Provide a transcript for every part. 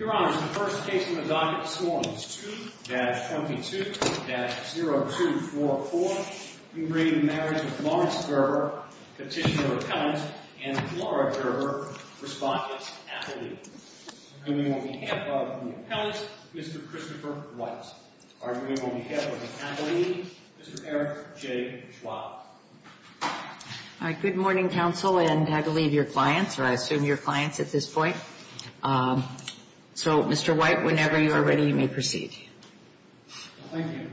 Your Honor, the first case on the docket this morning is 2-22-0244. We bring you the marriage of Lawrence Gerber, Petitioner of Appellants, and Laura Gerber, Respondent, Appellee. Arguing on behalf of the Appellants, Mr. Christopher Reitz. Arguing on behalf of the Appellee, Mr. Eric J. Schwab. Good morning, Counsel, and I believe your clients, or I assume your clients at this point. So, Mr. White, whenever you are ready, you may proceed. Thank you.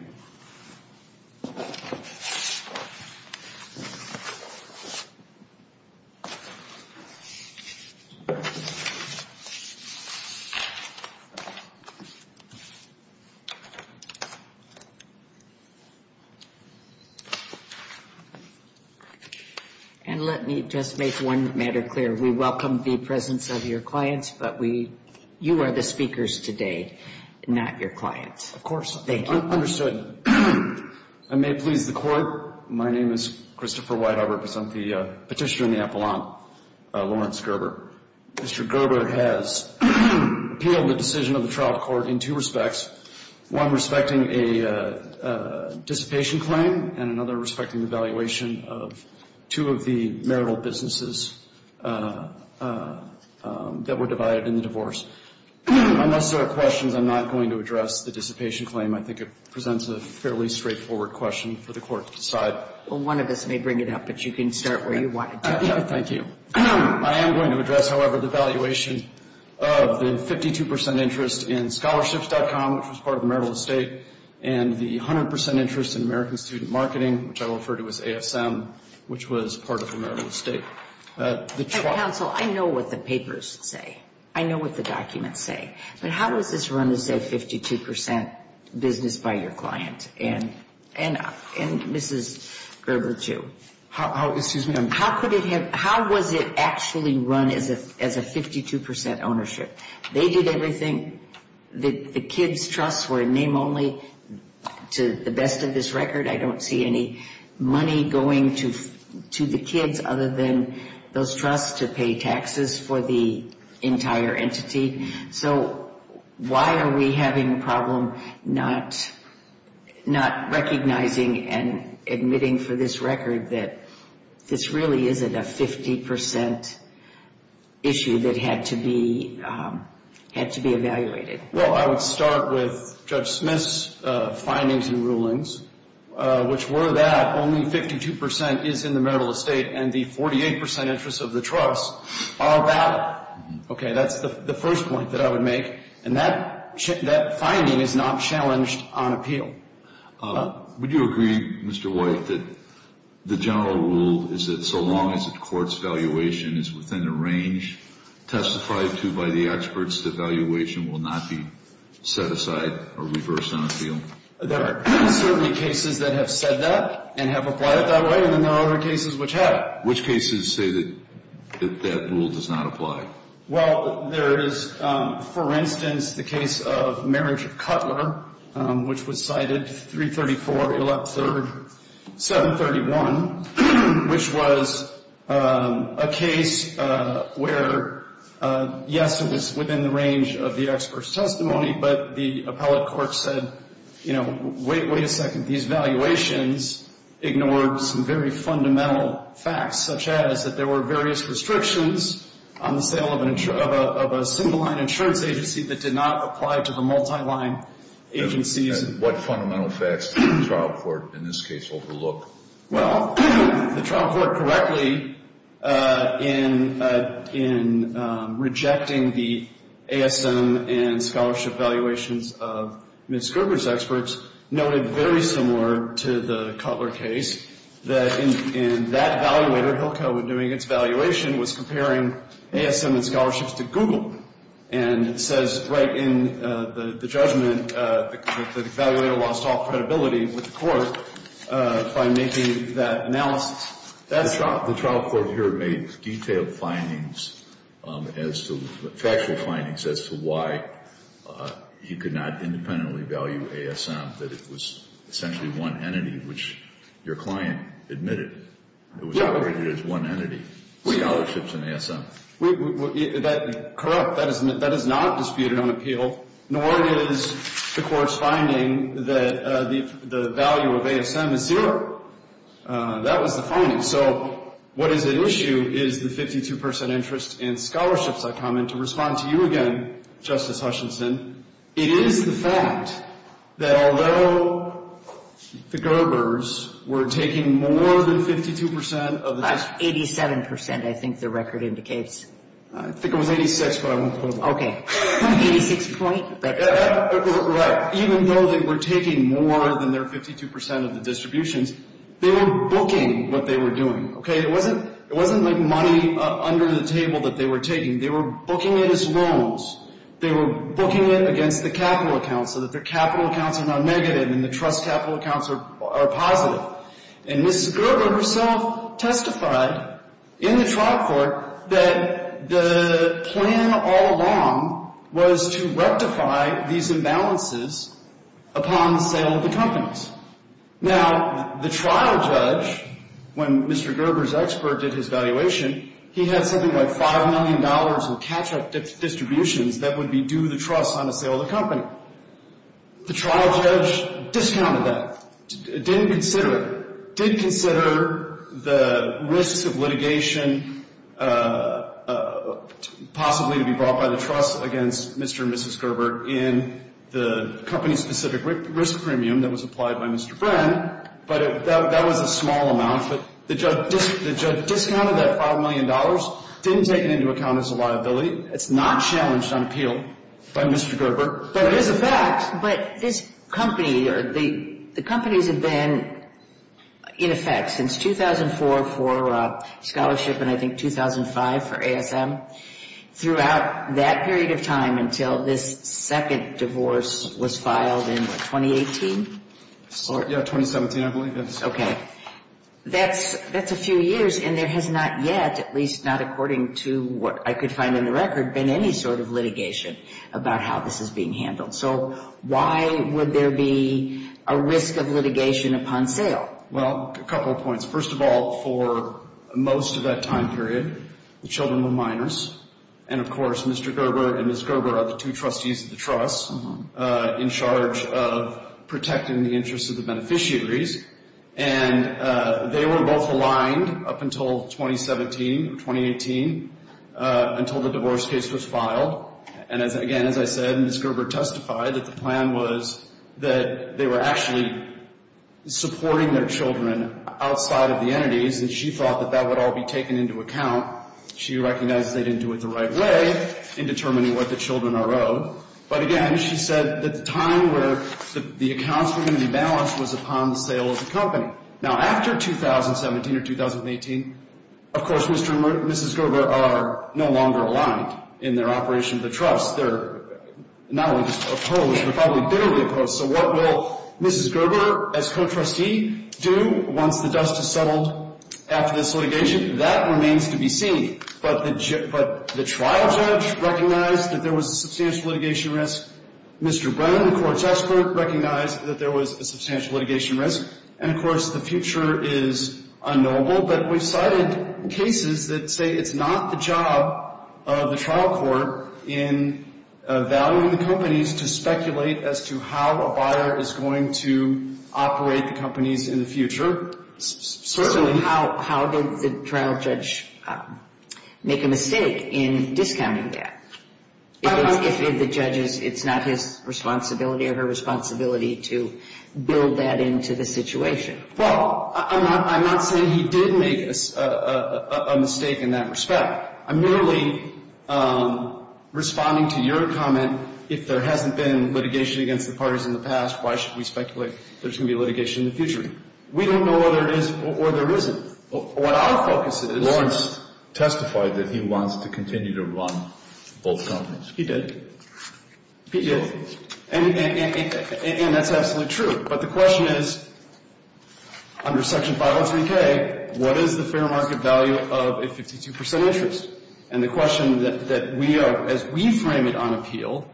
And let me just make one matter clear. We welcome the presence of your clients, but you are the speakers today, not your clients. Of course. Thank you. Understood. I may please the Court. My name is Christopher White. I represent the Petitioner and the Appellant, Lawrence Gerber. Mr. Gerber has appealed the decision of the trial court in two respects. One respecting a dissipation claim, and another respecting the valuation of two of the marital businesses that were divided in the divorce. Unnecessary questions. I'm not going to address the dissipation claim. I think it presents a fairly straightforward question for the Court to decide. Well, one of us may bring it up, but you can start where you wanted to. Thank you. I am going to address, however, the valuation of the 52 percent interest in Scholarships.com, which was part of the marital estate, and the 100 percent interest in American Student Marketing, which I will refer to as ASM, which was part of the marital estate. Counsel, I know what the papers say. I know what the documents say. But how does this run as a 52 percent business by your client? And Mrs. Gerber, too. Excuse me. How was it actually run as a 52 percent ownership? They did everything. The kids' trusts were name only to the best of this record. I don't see any money going to the kids other than those trusts to pay taxes for the entire entity. So why are we having a problem not recognizing and admitting for this record that this really isn't a 50 percent issue that had to be evaluated? Well, I would start with Judge Smith's findings and rulings, which were that only 52 percent is in the marital estate and the 48 percent interest of the trust are valid. Okay, that's the first point that I would make. And that finding is not challenged on appeal. Would you agree, Mr. White, that the general rule is that so long as a court's valuation is within a range testified to by the experts, the valuation will not be set aside or reversed on appeal? There are certainly cases that have said that and have applied it that way, and then there are other cases which have. Which cases say that that rule does not apply? Well, there is, for instance, the case of marriage of Cutler, which was cited 334, Elect 3rd, 731, which was a case where, yes, it was within the range of the expert's testimony, but the appellate court said, you know, wait a second, these valuations ignored some very fundamental facts, such as that there were various restrictions on the sale of a single-line insurance agency that did not apply to the multi-line agencies. What fundamental facts did the trial court in this case overlook? Well, the trial court correctly, in rejecting the ASM and scholarship valuations of Ms. Gerber's experts, noted very similar to the Cutler case that in that evaluator, Hillcoat, was comparing ASM and scholarships to Google and says right in the judgment, the evaluator lost all credibility with the court by making that analysis. The trial court here made detailed findings as to, factual findings, as to why he could not independently value ASM, that it was essentially one entity which your client admitted. It was rated as one entity, scholarships and ASM. Corrupt. That is not disputed on appeal, nor is the court's finding that the value of ASM is zero. That was the finding. So what is at issue is the 52 percent interest in scholarships. I come in to respond to you again, Justice Hutchinson. It is the fact that although the Gerbers were taking more than 52 percent of the distribution. That's 87 percent, I think the record indicates. I think it was 86, but I won't hold on. Okay. 86 point? Right. Even though they were taking more than their 52 percent of the distributions, they were booking what they were doing, okay? It wasn't like money under the table that they were taking. They were booking it as loans. They were booking it against the capital accounts so that their capital accounts are not negative and the trust capital accounts are positive. And Ms. Gerber herself testified in the trial court that the plan all along was to rectify these imbalances upon the sale of the companies. Now, the trial judge, when Mr. Gerber's expert did his valuation, he had something like $5 million in catch-up distributions that would be due the trust on the sale of the company. The trial judge discounted that, didn't consider it, did consider the risks of litigation possibly to be brought by the trust against Mr. and Mrs. Gerber in the company-specific risk premium that was applied by Mr. Friend, but that was a small amount. But the judge discounted that $5 million, didn't take it into account as a liability. It's not challenged on appeal by Mr. Gerber, but it is a fact. But this company or the companies have been in effect since 2004 for scholarship and I think 2005 for ASM throughout that period of time until this second divorce was filed in what, 2018? Yeah, 2017 I believe. Okay. That's a few years and there has not yet, at least not according to what I could find in the record, been any sort of litigation about how this is being handled. So why would there be a risk of litigation upon sale? Well, a couple of points. First of all, for most of that time period, the children were minors, and of course Mr. Gerber and Mrs. Gerber are the two trustees of the trust in charge of protecting the interests of the beneficiaries. And they were both aligned up until 2017 or 2018 until the divorce case was filed. And again, as I said, Mrs. Gerber testified that the plan was that they were actually supporting their children outside of the entities and she thought that that would all be taken into account. She recognizes they didn't do it the right way in determining what the children are owed. But again, she said that the time where the accounts were going to be balanced was upon the sale of the company. Now, after 2017 or 2018, of course, Mr. and Mrs. Gerber are no longer aligned in their operation of the trust. They're not only just opposed, they're probably bitterly opposed. So what will Mrs. Gerber, as co-trustee, do once the dust has settled after this litigation? That remains to be seen. But the trial judge recognized that there was a substantial litigation risk. Mr. Brennan, the court's expert, recognized that there was a substantial litigation risk. And of course the future is unknowable. But we've cited cases that say it's not the job of the trial court in valuing the companies to speculate as to how a buyer is going to operate the companies in the future. Certainly. So how did the trial judge make a mistake in discounting that? If the judge is, it's not his responsibility or her responsibility to build that into the situation. Well, I'm not saying he did make a mistake in that respect. I'm merely responding to your comment, if there hasn't been litigation against the parties in the past, why should we speculate there's going to be litigation in the future? We don't know whether it is or there isn't. What our focus is – Lawrence testified that he wants to continue to run both companies. He did. He did. And that's absolutely true. But the question is, under Section 503K, what is the fair market value of a 52% interest? And the question that we are, as we frame it on appeal,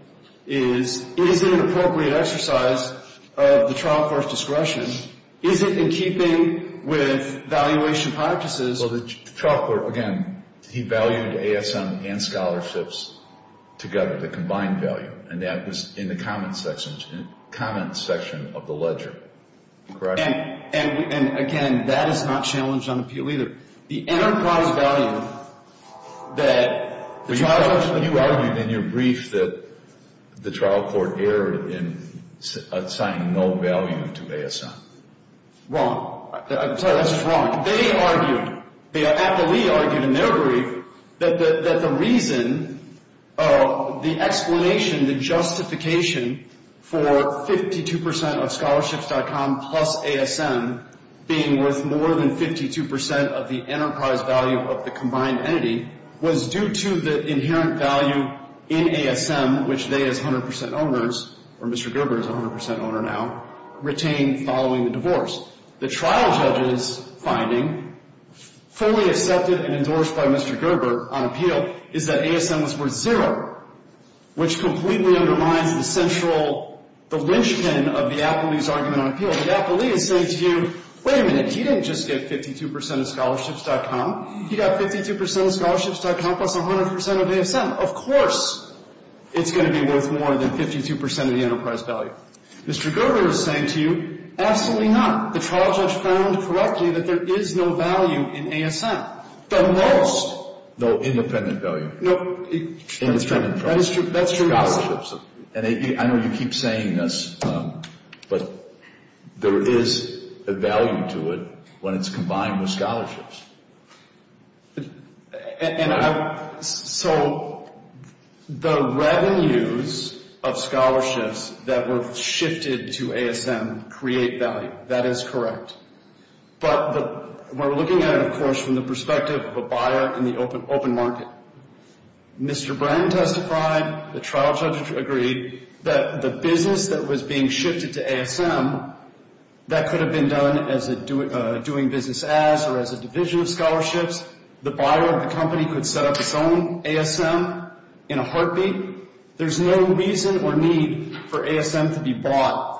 is, is it an appropriate exercise of the trial court's discretion? Is it in keeping with valuation practices? Well, the trial court, again, he valued ASM and scholarships together, the combined value. And that was in the comments section of the ledger. And, again, that is not challenged on appeal either. The enterprise value that the trial court – You argued in your brief that the trial court erred in assigning no value to ASM. Wrong. I'm sorry, that's just wrong. They argued, the appellee argued in their brief that the reason, the explanation, the justification for 52% of scholarships.com plus ASM being worth more than 52% of the enterprise value of the combined entity was due to the inherent value in ASM, which they as 100% owners, or Mr. Gerber is a 100% owner now, retained following the divorce. The trial judge's finding, fully accepted and endorsed by Mr. Gerber on appeal, is that ASM was worth zero, which completely undermines the central, the linchpin of the appellee's argument on appeal. The appellee is saying to you, wait a minute, he didn't just get 52% of scholarships.com. He got 52% of scholarships.com plus 100% of ASM. Of course it's going to be worth more than 52% of the enterprise value. Mr. Gerber is saying to you, absolutely not. The trial judge found correctly that there is no value in ASM. The most. No independent value. No, that's true. I know you keep saying this, but there is a value to it when it's combined with scholarships. So the revenues of scholarships that were shifted to ASM create value. That is correct. But we're looking at it, of course, from the perspective of a buyer in the open market. Mr. Bren testified, the trial judge agreed, that the business that was being shifted to ASM, that could have been done as a doing business as or as a division of scholarships. The buyer of the company could set up its own ASM in a heartbeat. There's no reason or need for ASM to be bought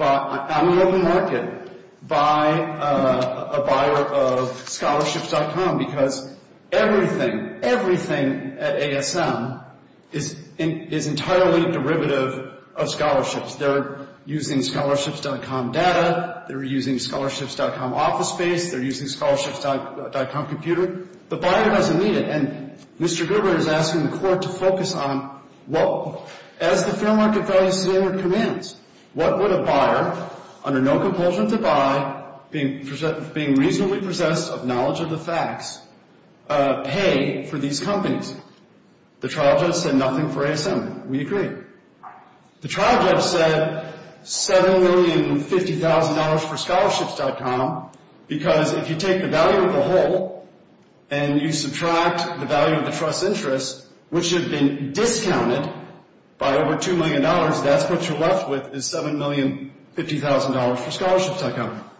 out in the open market by a buyer of scholarships.com because everything, everything at ASM is entirely derivative of scholarships. They're using scholarships.com data. They're using scholarships.com office space. They're using scholarships.com computer. The buyer doesn't need it. And Mr. Gerber is asking the court to focus on, as the fair market value standard commands, what would a buyer, under no compulsion to buy, being reasonably possessed of knowledge of the facts, pay for these companies? The trial judge said nothing for ASM. We agree. The trial judge said $7,050,000 for scholarships.com because if you take the value of the whole and you subtract the value of the trust interest, which have been discounted by over $2 million, that's what you're left with is $7,050,000 for scholarships.com,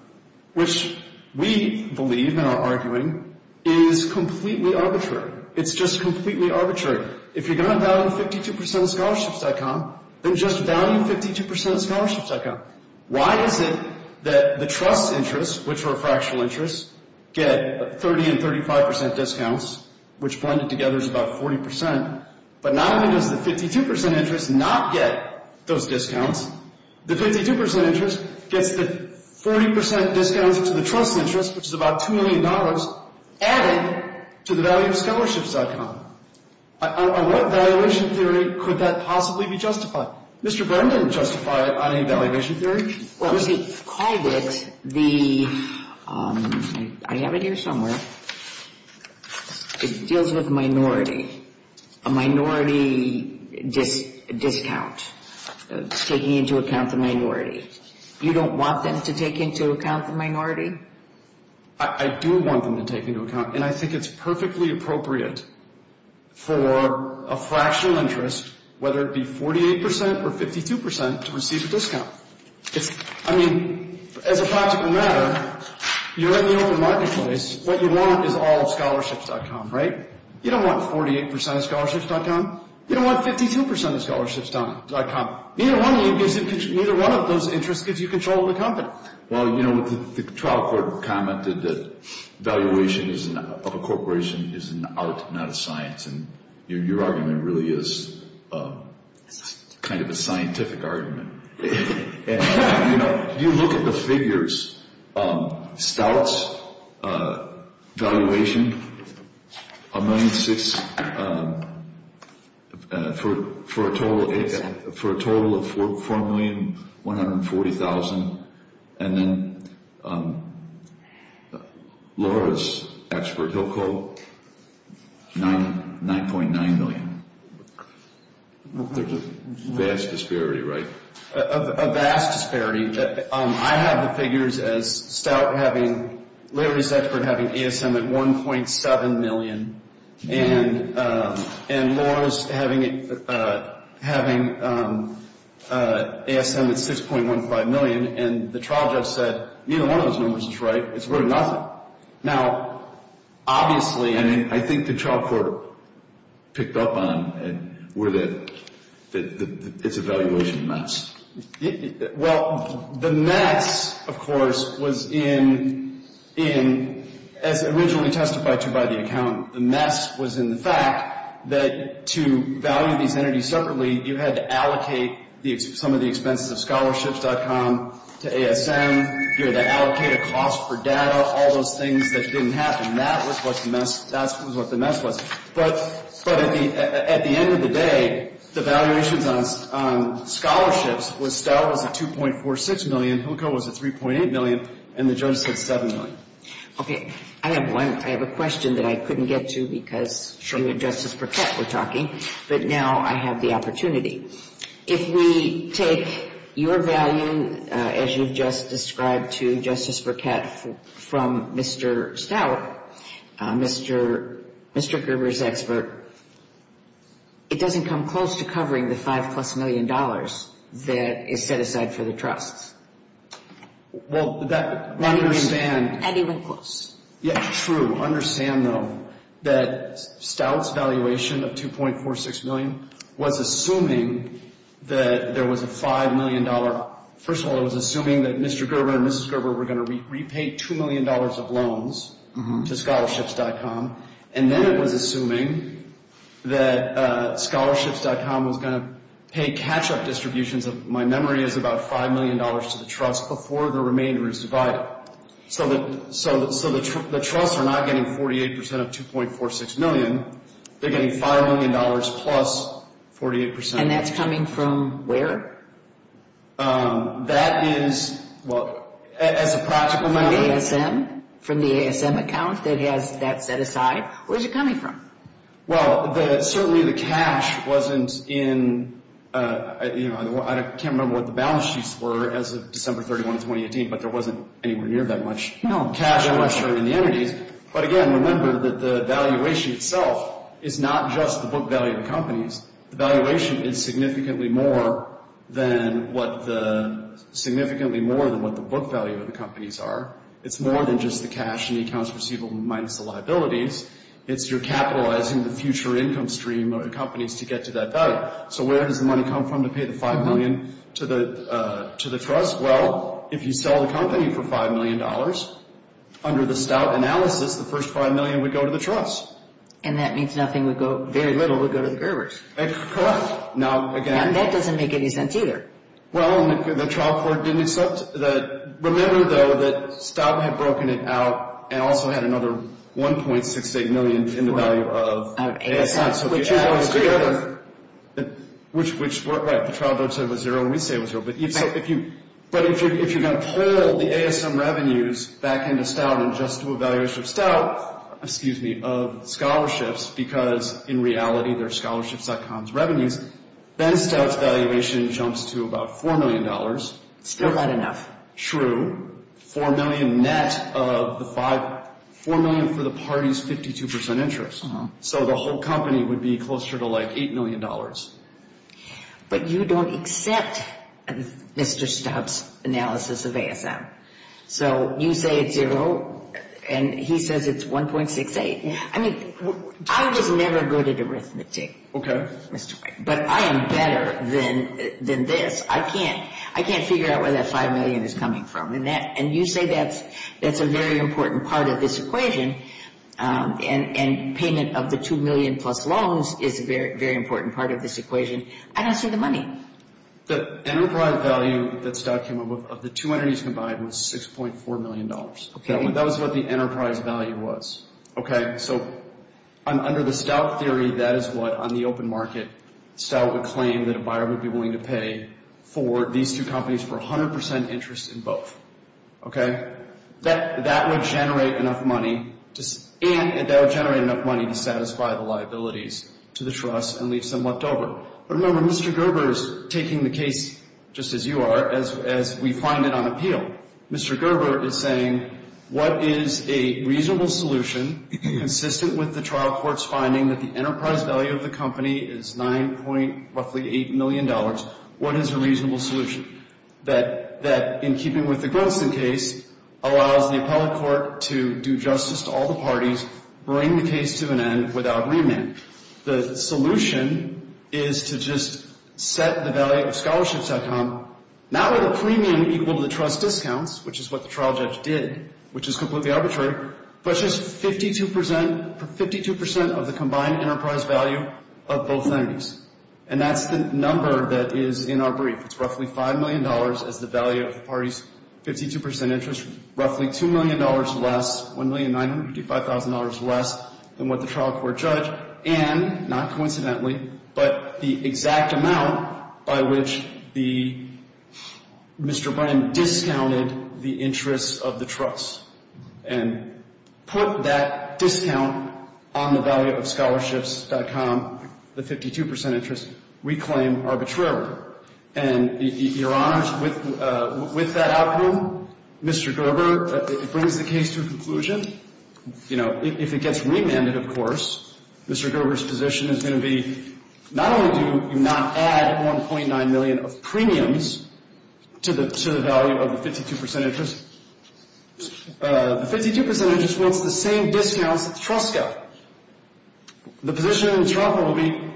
which we believe and are arguing is completely arbitrary. It's just completely arbitrary. If you're going to value 52% of scholarships.com, then just value 52% of scholarships.com. Why is it that the trust interest, which are fractional interests, get 30% and 35% discounts, which blended together is about 40%, but not only does the 52% interest not get those discounts, the 52% interest gets the 40% discounts to the trust interest, which is about $2 million, added to the value of scholarships.com? On what valuation theory could that possibly be justified? Mr. Brennan, justify it on any valuation theory? Well, we've called it the, I have it here somewhere, it deals with minority, a minority discount, taking into account the minority. You don't want them to take into account the minority? I do want them to take into account, and I think it's perfectly appropriate for a fractional interest, whether it be 48% or 52%, to receive a discount. I mean, as a practical matter, you're in the open marketplace. What you want is all of scholarships.com, right? You don't want 48% of scholarships.com. You don't want 52% of scholarships.com. Neither one of those interests gives you control of the company. Well, you know, the trial court commented that valuation of a corporation is an art, not a science, and your argument really is kind of a scientific argument. You know, you look at the figures. Stouts, valuation, $1.6 million for a total of $4,140,000. And then Laura's expert, Hillco, $9.9 million. There's a vast disparity, right? A vast disparity. I have the figures as Stout having, Larry's expert having ASM at $1.7 million, and Laura's having ASM at $6.15 million. And the trial judge said, neither one of those numbers is right. It's worth nothing. Now, obviously, I mean, I think the trial court picked up on where it's a valuation mess. Well, the mess, of course, was in, as originally testified to by the accountant, the mess was in the fact that to value these entities separately, you had to allocate some of the expenses of scholarships.com to ASM. You had to allocate a cost for data, all those things that didn't happen. That was what the mess was. But at the end of the day, the valuations on scholarships was Stout was at $2.46 million, Hillco was at $3.8 million, and the judge said $7 million. Okay. I have one. I have a question that I couldn't get to because you and Justice Burkett were talking, but now I have the opportunity. If we take your value, as you've just described to Justice Burkett, from Mr. Stout, Mr. Gerber's expert, it doesn't come close to covering the $5-plus million that is set aside for the trusts. Well, that would understand. And he went close. Yeah, true. I do understand, though, that Stout's valuation of $2.46 million was assuming that there was a $5 million. First of all, it was assuming that Mr. Gerber and Mrs. Gerber were going to repay $2 million of loans to scholarships.com, and then it was assuming that scholarships.com was going to pay catch-up distributions of, my memory is, about $5 million to the trust before the remainder is divided. So the trusts are not getting 48% of $2.46 million. They're getting $5 million plus 48%. And that's coming from where? That is, well, as a practical matter. The ASM, from the ASM account that has that set aside? Where's it coming from? Well, certainly the cash wasn't in, you know, I can't remember what the balance sheets were as of December 31, 2018, but there wasn't anywhere near that much cash in the entities. But again, remember that the valuation itself is not just the book value of the companies. The valuation is significantly more than what the book value of the companies are. It's more than just the cash in the accounts receivable minus the liabilities. It's your capitalizing the future income stream of the companies to get to that value. So where does the money come from to pay the $5 million to the trust? Well, if you sell the company for $5 million, under the Stout analysis, the first $5 million would go to the trust. And that means nothing would go, very little would go to the bearers. Correct. Now, again. And that doesn't make any sense either. Well, and the trial court didn't accept that. Remember, though, that Stout had broken it out and also had another $1.68 million in the value of ASM. So the two goes together. Which, right, the trial court said it was zero and we say it was zero. But if you're going to pull the ASM revenues back into Stout and just do a valuation of Stout, excuse me, of scholarships, because in reality they're scholarships.com's revenues, then Stout's valuation jumps to about $4 million. Still not enough. True. $4 million net of the five, $4 million for the party's 52% interest. So the whole company would be closer to like $8 million. But you don't accept Mr. Stout's analysis of ASM. So you say it's zero and he says it's $1.68. I mean, I was never good at arithmetic. Okay. But I am better than this. I can't figure out where that $5 million is coming from. And you say that's a very important part of this equation. And payment of the $2 million plus loans is a very, very important part of this equation. I don't see the money. The enterprise value that Stout came up with of the two entities combined was $6.4 million. Okay. That was what the enterprise value was. Okay. So under the Stout theory, that is what on the open market Stout would claim that a buyer would be willing to pay for these two companies for 100% interest in both. Okay. That would generate enough money to satisfy the liabilities to the trust and leave some left over. But remember, Mr. Gerber is taking the case just as you are, as we find it on appeal. Mr. Gerber is saying what is a reasonable solution consistent with the trial court's finding that the enterprise value of the company is roughly $8 million. What is a reasonable solution? That in keeping with the Grunston case allows the appellate court to do justice to all the parties, bring the case to an end without remand. The solution is to just set the value of scholarships.com not with a premium equal to the trust discounts, which is what the trial judge did, which is completely arbitrary, but just 52% of the combined enterprise value of both entities. And that's the number that is in our brief. It's roughly $5 million as the value of the party's 52% interest, roughly $2 million less, $1,955,000 less than what the trial court judged, and, not coincidentally, but the exact amount by which Mr. Brennan discounted the interest of the trust and put that discount on the value of scholarships.com, the 52% interest, we claim arbitrarily. And, Your Honor, with that outcome, Mr. Gerber brings the case to a conclusion. You know, if it gets remanded, of course, Mr. Gerber's position is going to be not only do you not add $1.9 million of premiums to the value of the 52% interest, the 52% interest wants the same discounts that the trust got. The position in the trial court will be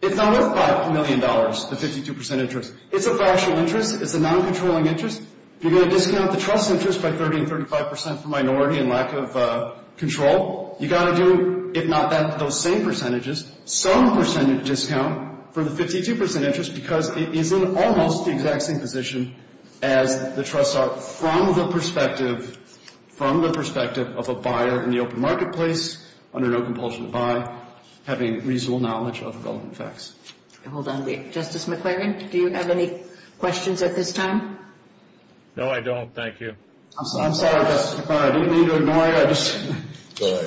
it's not worth $5 million, the 52% interest. It's a factual interest. It's a noncontrolling interest. If you're going to discount the trust's interest by 30% and 35% for minority and lack of control, you've got to do, if not those same percentages, some percentage discount for the 52% interest because it is in almost the exact same position as the trust sought from the perspective of a buyer in the open marketplace under no compulsion to buy, having reasonable knowledge of the relevant facts. Hold on a minute. Justice McClaren, do you have any questions at this time? No, I don't. Thank you. I'm sorry, Justice McClaren. Do you need to ignore me? I just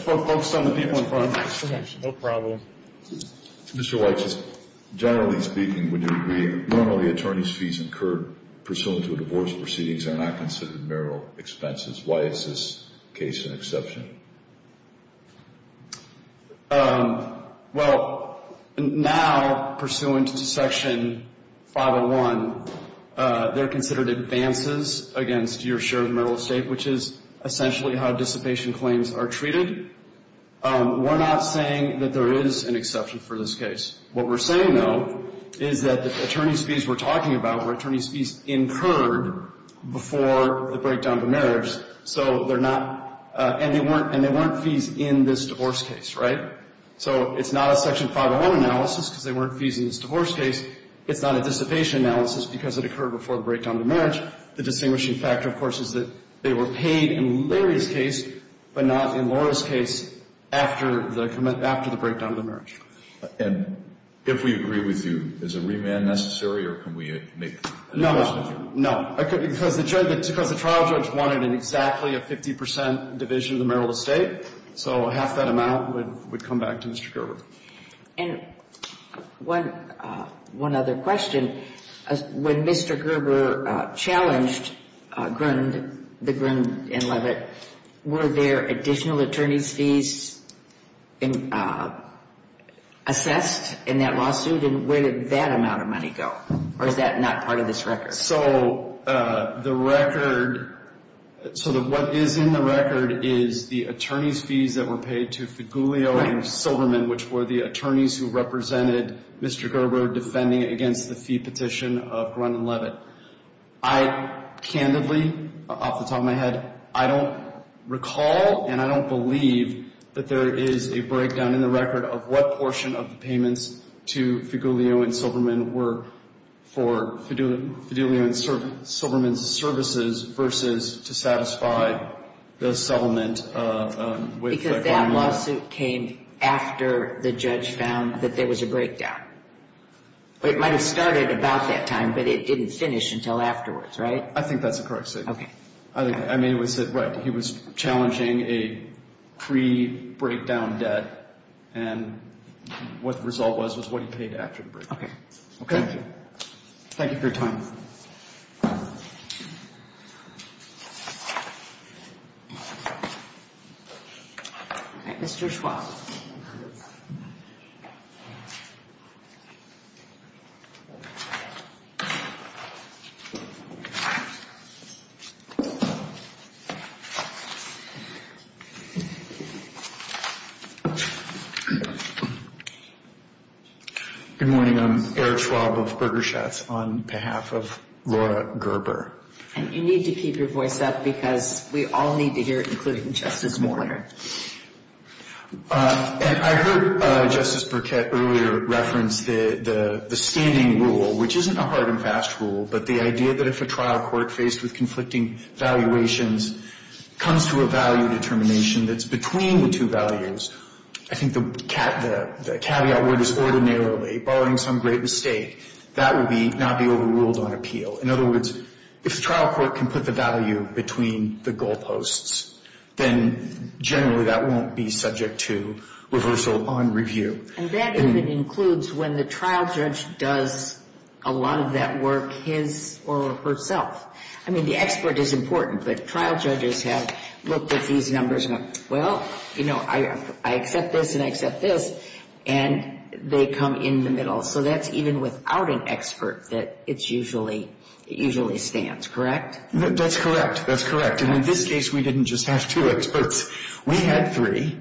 focused on the people in front of me. No problem. Mr. Weitz, generally speaking, would you agree normally attorney's fees incurred pursuant to a divorce proceedings are not considered marital expenses? Why is this case an exception? Well, now pursuant to Section 501, they're considered advances against your share of marital estate, which is essentially how dissipation claims are treated. We're not saying that there is an exception for this case. What we're saying, though, is that attorney's fees we're talking about were attorney's fees incurred before the breakdown of marriage, and they weren't fees in this divorce case, right? So it's not a Section 501 analysis because they weren't fees in this divorce case. It's not a dissipation analysis because it occurred before the breakdown of marriage. The distinguishing factor, of course, is that they were paid in Larry's case, but not in Laura's case after the breakdown of the marriage. And if we agree with you, is a remand necessary, or can we make the divorce necessary? Because the trial judge wanted exactly a 50% division of the marital estate, so half that amount would come back to Mr. Gerber. And one other question. When Mr. Gerber challenged the Grund and Levitt, were there additional attorney's fees assessed in that lawsuit? And where did that amount of money go? Or is that not part of this record? So the record – so what is in the record is the attorney's fees that were paid to Figulio and Silverman, which were the attorneys who represented Mr. Gerber defending against the fee petition of Grund and Levitt. I, candidly, off the top of my head, I don't recall and I don't believe that there is a breakdown in the record of what portion of the payments to Figulio and Silverman were for Figulio and Silverman's services versus to satisfy the settlement with Grund and Levitt. Because that lawsuit came after the judge found that there was a breakdown. It might have started about that time, but it didn't finish until afterwards, right? I think that's a correct statement. Okay. I mean, it was – right. He was challenging a pre-breakdown debt, and what the result was was what he paid after the break. Okay. Thank you. Thank you for your time. Mr. Schwab. Good morning. I'm Eric Schwab of Berger Schatz on behalf of Laura Gerber. And you need to keep your voice up because we all need to hear it, including Justice Borner. And I heard Justice Burkett earlier reference the standing rule, which isn't a hard and fast rule, but the idea that if a trial court faced with conflicting valuations, comes to a value determination that's between the two values, I think the caveat word is ordinarily, barring some great mistake, that would not be overruled on appeal. In other words, if the trial court can put the value between the goal posts, then generally that won't be subject to reversal on review. And that even includes when the trial judge does a lot of that work his or herself. I mean, the expert is important, but trial judges have looked at these numbers and gone, well, you know, I accept this and I accept this, and they come in the middle. So that's even without an expert that it usually stands, correct? That's correct. That's correct. And in this case, we didn't just have two experts. We had three.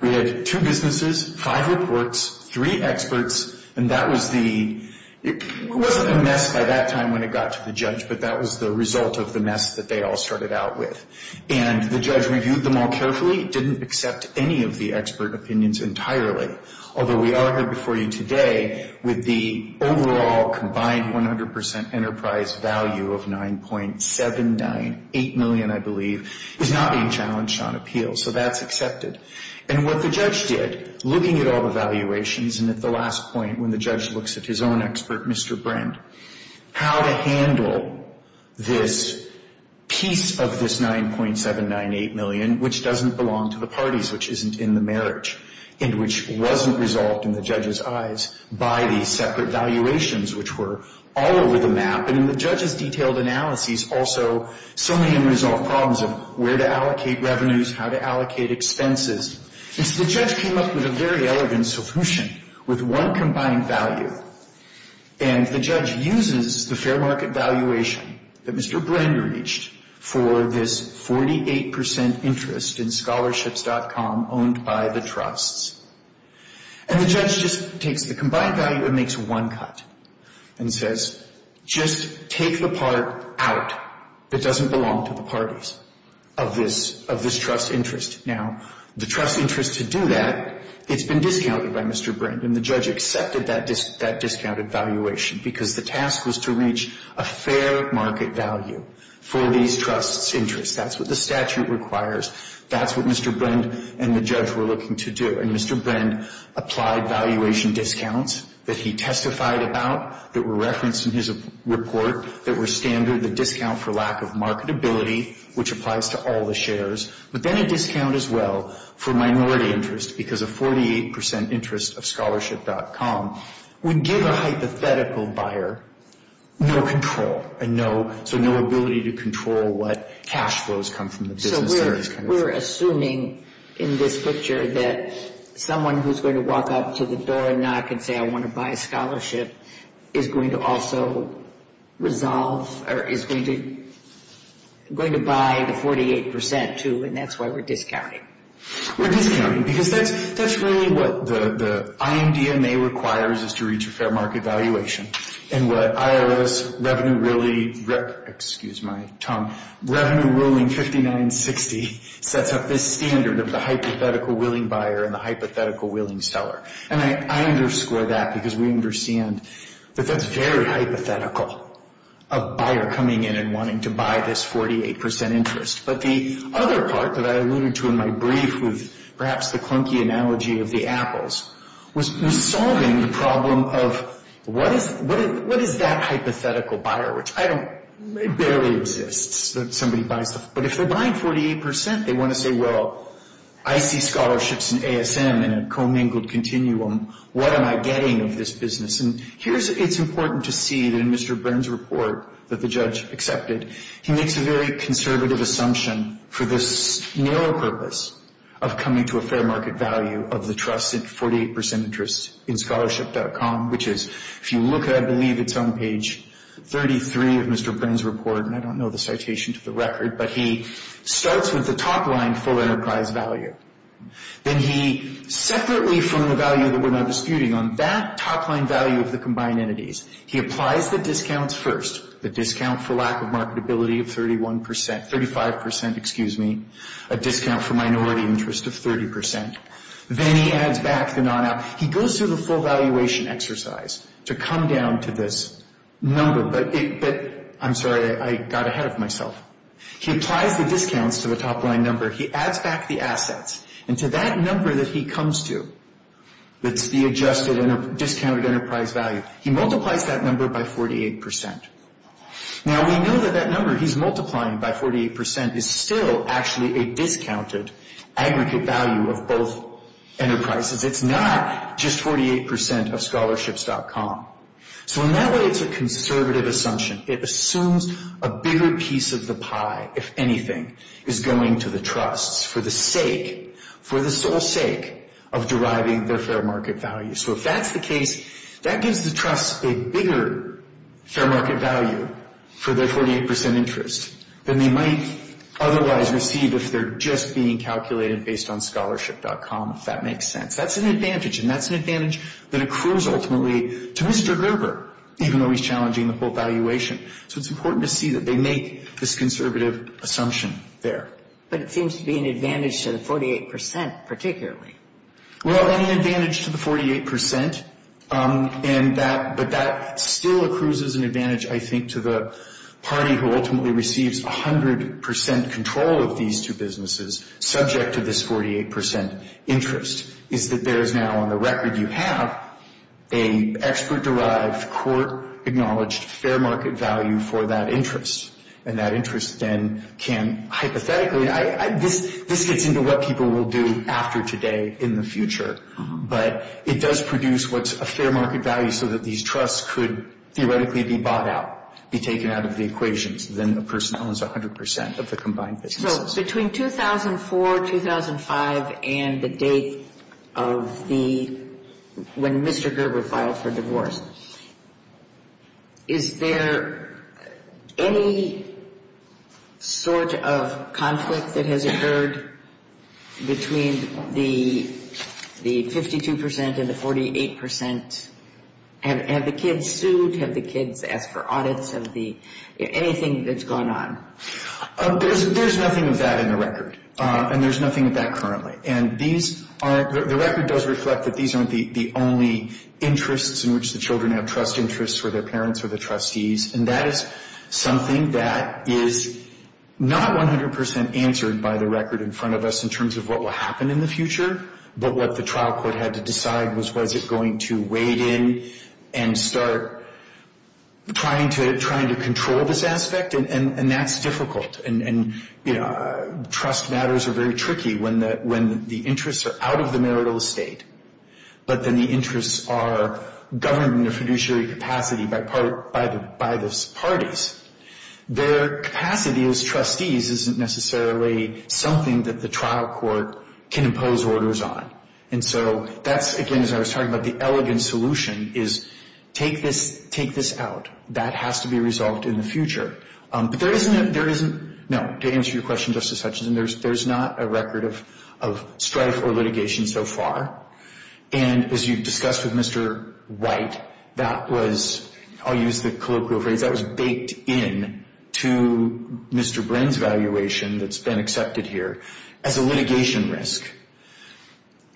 We had two businesses, five reports, three experts, and that was the – that was the result of the mess that they all started out with. And the judge reviewed them all carefully, didn't accept any of the expert opinions entirely, although we are here before you today with the overall combined 100% enterprise value of 9.798 million, I believe, is not being challenged on appeal. So that's accepted. And what the judge did, looking at all the valuations, and at the last point when the judge looks at his own expert, Mr. Brand, how to handle this piece of this 9.798 million, which doesn't belong to the parties, which isn't in the marriage, and which wasn't resolved in the judge's eyes by these separate valuations, which were all over the map. And in the judge's detailed analyses also, so many unresolved problems of where to allocate revenues, how to allocate expenses. And so the judge came up with a very elegant solution with one combined value, and the judge uses the fair market valuation that Mr. Brand reached for this 48% interest in scholarships.com owned by the trusts. And the judge just takes the combined value and makes one cut and says, just take the part out that doesn't belong to the parties of this trust interest. Now, the trust interest to do that, it's been discounted by Mr. Brand, and the judge accepted that discounted valuation because the task was to reach a fair market value for these trusts' interests. That's what the statute requires. That's what Mr. Brand and the judge were looking to do. And Mr. Brand applied valuation discounts that he testified about, that were referenced in his report, that were standard, the discount for lack of marketability, which applies to all the shares. But then a discount as well for minority interest because a 48% interest of scholarship.com would give a hypothetical buyer no control and so no ability to control what cash flows come from the business. So we're assuming in this picture that someone who's going to walk up to the door and knock and say, I want to buy a scholarship, is going to also resolve or is going to buy the 48% too, and that's why we're discounting. We're discounting because that's really what the IMDMA requires is to reach a fair market valuation. And what IRS Revenue Ruling 5960 sets up this standard of the hypothetical willing buyer and the hypothetical willing seller. And I underscore that because we understand that that's very hypothetical, a buyer coming in and wanting to buy this 48% interest. But the other part that I alluded to in my brief with perhaps the clunky analogy of the apples was solving the problem of what is that hypothetical buyer, which I don't, it barely exists that somebody buys the, but if they're buying 48%, they want to say, well, I see scholarships and ASM in a commingled continuum. What am I getting of this business? And here's, it's important to see that in Mr. Burns' report that the judge accepted, he makes a very conservative assumption for this narrow purpose of coming to a fair market value of the trust in 48% interest in scholarship.com, which is, if you look at, I believe, it's on page 33 of Mr. Burns' report, and I don't know the citation to the record, but he starts with the top-line full enterprise value. Then he, separately from the value that we're now disputing on that top-line value of the combined entities, he applies the discounts first, the discount for lack of marketability of 31%, 35%, excuse me, a discount for minority interest of 30%. Then he adds back the non-out. He goes through the full valuation exercise to come down to this number. I'm sorry, I got ahead of myself. He applies the discounts to the top-line number. He adds back the assets. And to that number that he comes to, that's the adjusted discounted enterprise value, he multiplies that number by 48%. Now, we know that that number he's multiplying by 48% is still actually a discounted aggregate value of both enterprises. It's not just 48% of scholarships.com. So in that way, it's a conservative assumption. It assumes a bigger piece of the pie, if anything, is going to the trusts for the sake, for the sole sake of deriving their fair market value. So if that's the case, that gives the trusts a bigger fair market value for their 48% interest than they might otherwise receive if they're just being calculated based on scholarship.com, if that makes sense. That's an advantage, and that's an advantage that accrues ultimately to Mr. Gerber, even though he's challenging the full valuation. So it's important to see that they make this conservative assumption there. But it seems to be an advantage to the 48%, particularly. Well, an advantage to the 48%, but that still accrues as an advantage, I think, to the party who ultimately receives 100% control of these two businesses, subject to this 48% interest. Is that there is now on the record you have an expert-derived, court-acknowledged fair market value for that interest. And that interest then can hypothetically ñ this gets into what people will do after today in the future. But it does produce what's a fair market value so that these trusts could theoretically be bought out, be taken out of the equations. Then the person owns 100% of the combined businesses. Between 2004, 2005, and the date of the ñ when Mr. Gerber filed for divorce, is there any sort of conflict that has occurred between the 52% and the 48%? Have the kids sued? Have the kids asked for audits of the ñ anything that's gone on? There's nothing of that in the record, and there's nothing of that currently. And these aren't ñ the record does reflect that these aren't the only interests in which the children have trust interests for their parents or the trustees. And that is something that is not 100% answered by the record in front of us in terms of what will happen in the future. But what the trial court had to decide was was it going to wade in and start trying to control this aspect? And that's difficult. And, you know, trust matters are very tricky when the interests are out of the marital estate, but then the interests are governed in a fiduciary capacity by the parties. Their capacity as trustees isn't necessarily something that the trial court can impose orders on. And so that's, again, as I was talking about, the elegant solution is take this out. That has to be resolved in the future. But there isn't ñ no, to answer your question, Justice Hutchinson, there's not a record of strife or litigation so far. And as you've discussed with Mr. White, that was ñ I'll use the colloquial phrase ñ that was baked in to Mr. Brin's valuation that's been accepted here as a litigation risk.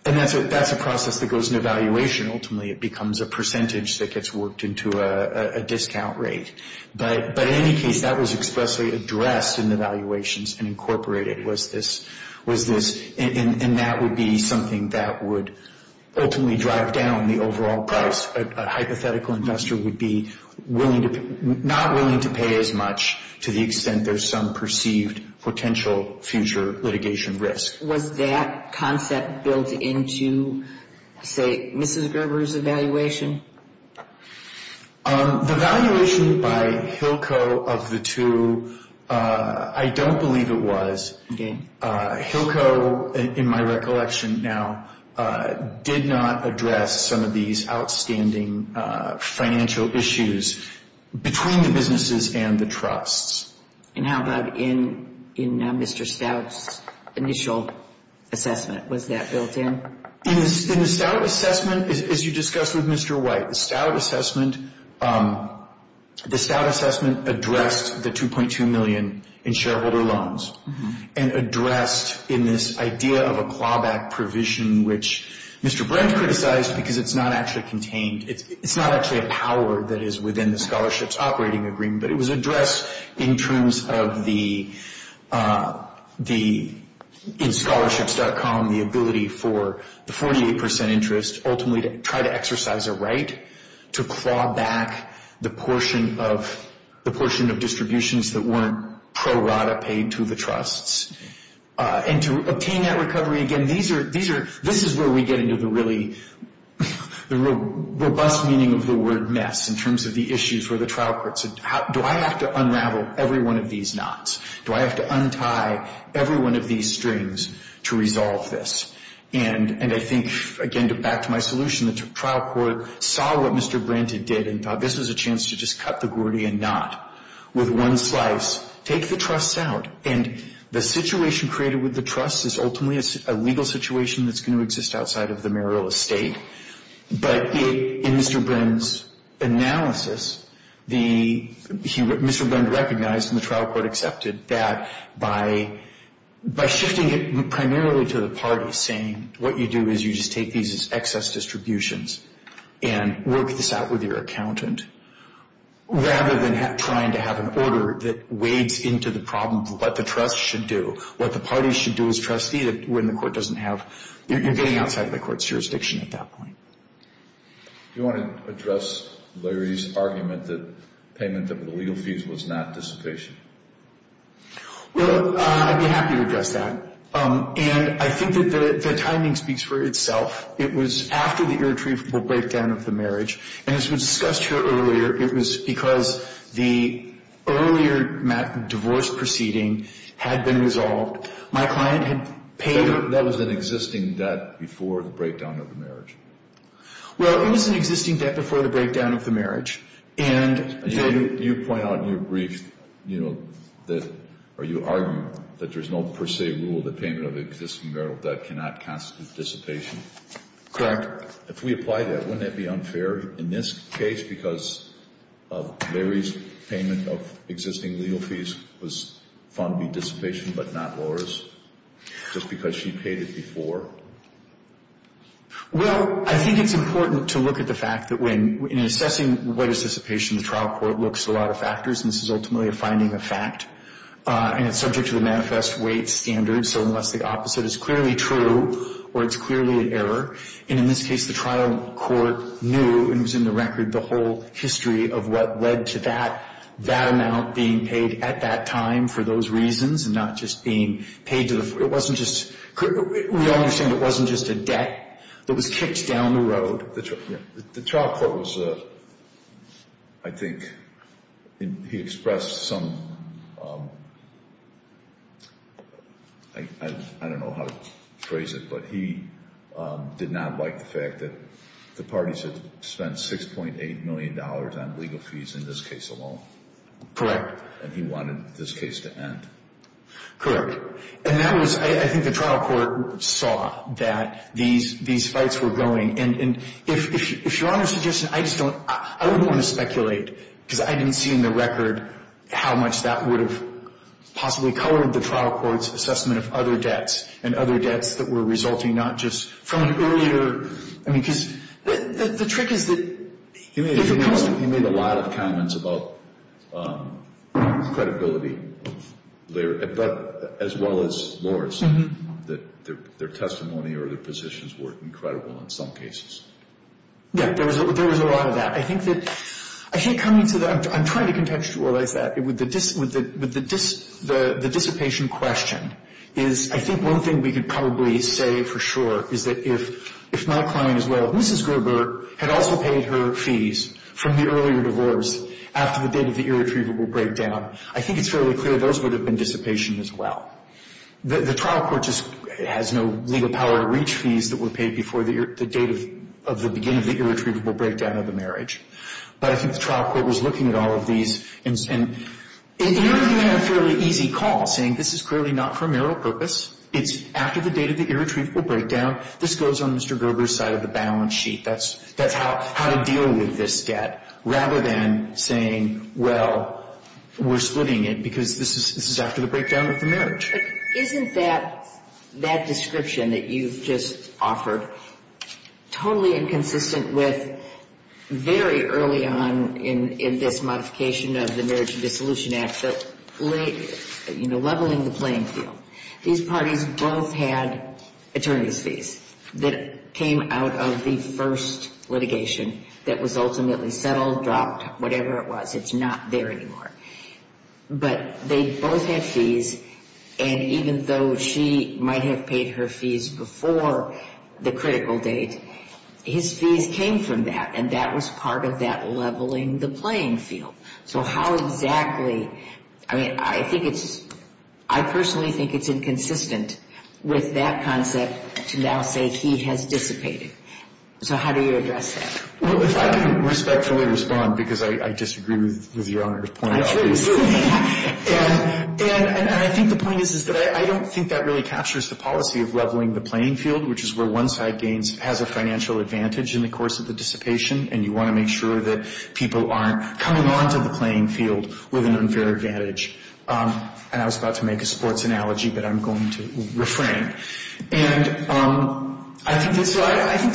And that's a process that goes into valuation. Ultimately it becomes a percentage that gets worked into a discount rate. But in any case, that was expressly addressed in the valuations and incorporated was this ñ and that would be something that would ultimately drive down the overall price. A hypothetical investor would be willing to ñ not willing to pay as much to the extent there's some perceived potential future litigation risk. Was that concept built into, say, Mrs. Gerber's evaluation? The valuation by Hilco of the two, I don't believe it was. Hilco, in my recollection now, did not address some of these outstanding financial issues between the businesses and the trusts. And how about in Mr. Stout's initial assessment? Was that built in? In the Stout assessment, as you discussed with Mr. White, the Stout assessment ñ and addressed in this idea of a clawback provision, which Mr. Brin criticized because it's not actually contained. It's not actually a power that is within the scholarships operating agreement, but it was addressed in terms of the ñ in scholarships.com, the ability for the 48 percent interest ultimately to try to exercise a right to claw back the portion of distributions that weren't pro rata paid to the trusts. And to obtain that recovery, again, these are ñ this is where we get into the really ñ the robust meaning of the word mess in terms of the issues where the trial court said, do I have to unravel every one of these knots? Do I have to untie every one of these strings to resolve this? And I think, again, back to my solution, the trial court saw what Mr. Brin did and thought this was a chance to just cut the Gordian knot with one slice, take the trusts out. And the situation created with the trusts is ultimately a legal situation that's going to exist outside of the mayoral estate. But in Mr. Brin's analysis, Mr. Brin recognized, and the trial court accepted, that by shifting it primarily to the parties, saying, what you do is you just take these as excess distributions and work this out with your accountant, rather than trying to have an order that wades into the problem of what the trusts should do, what the parties should do as trustee when the court doesn't have ñ you're getting outside of the court's jurisdiction at that point. Do you want to address Larry's argument that payment of the legal fees was not dissipation? Well, I'd be happy to address that. And I think that the timing speaks for itself. It was after the irretrievable breakdown of the marriage. And as was discussed here earlier, it was because the earlier divorce proceeding had been resolved. So that was an existing debt before the breakdown of the marriage? Well, it was an existing debt before the breakdown of the marriage. And you point out in your brief, you know, that ñ or you argue that there's no per se rule that payment of existing marital debt cannot constitute dissipation. Correct. If we apply that, wouldn't that be unfair in this case because of Larry's payment of existing legal fees was found to be dissipation but not Laura's, just because she paid it before? Well, I think it's important to look at the fact that when ñ in assessing what is dissipation, the trial court looks at a lot of factors. And this is ultimately a finding of fact. And it's subject to the manifest weight standard. So unless the opposite is clearly true or it's clearly an error, and in this case the trial court knew and was in the record the whole history of what led to that, that amount being paid at that time for those reasons and not just being paid to the ñ it wasn't just ñ we all understand it wasn't just a debt that was kicked down the road. The trial court was ñ I think he expressed some ñ I don't know how to phrase it, but he did not like the fact that the parties had spent $6.8 million on legal fees in this case alone. Correct. And he wanted this case to end. Correct. And that was ñ I think the trial court saw that these fights were going. And if Your Honor's suggestion ñ I just don't ñ I wouldn't want to speculate because I didn't see in the record how much that would have possibly colored the trial court's assessment of other debts and other debts that were resulting not just from an earlier ñ I mean, because the trick is that if it comes to ñ He made a lot of comments about credibility of their ñ as well as Lohr's, that their testimony or their positions weren't credible in some cases. Yeah, there was a lot of that. I think that ñ I think coming to the ñ I'm trying to contextualize that. With the dissipation question is, I think one thing we could probably say for sure is that if my client as well, Mrs. Gerber, had also paid her fees from the earlier divorce after the date of the irretrievable breakdown, I think it's fairly clear those would have been dissipation as well. The trial court just has no legal power to reach fees that were paid before the date of the beginning of the irretrievable breakdown of the marriage. But I think the trial court was looking at all of these. And it ended up being a fairly easy call, saying this is clearly not for marital purpose. It's after the date of the irretrievable breakdown. This goes on Mr. Gerber's side of the balance sheet. That's how to deal with this debt, rather than saying, well, we're splitting it because this is after the breakdown of the marriage. Isn't that description that you've just offered totally inconsistent with very early on in this modification of the Marriage and Dissolution Act, leveling the playing field. These parties both had attorney's fees that came out of the first litigation that was ultimately settled, dropped, whatever it was. It's not there anymore. But they both had fees. And even though she might have paid her fees before the critical date, his fees came from that. And that was part of that leveling the playing field. So how exactly, I mean, I think it's, I personally think it's inconsistent with that concept to now say he has dissipated. So how do you address that? Well, if I can respectfully respond, because I disagree with your Honor's point. And I think the point is that I don't think that really captures the policy of leveling the playing field, which is where one side gains, has a financial advantage in the course of the dissipation, and you want to make sure that people aren't coming onto the playing field with an unfair advantage. And I was about to make a sports analogy, but I'm going to refrain. And I think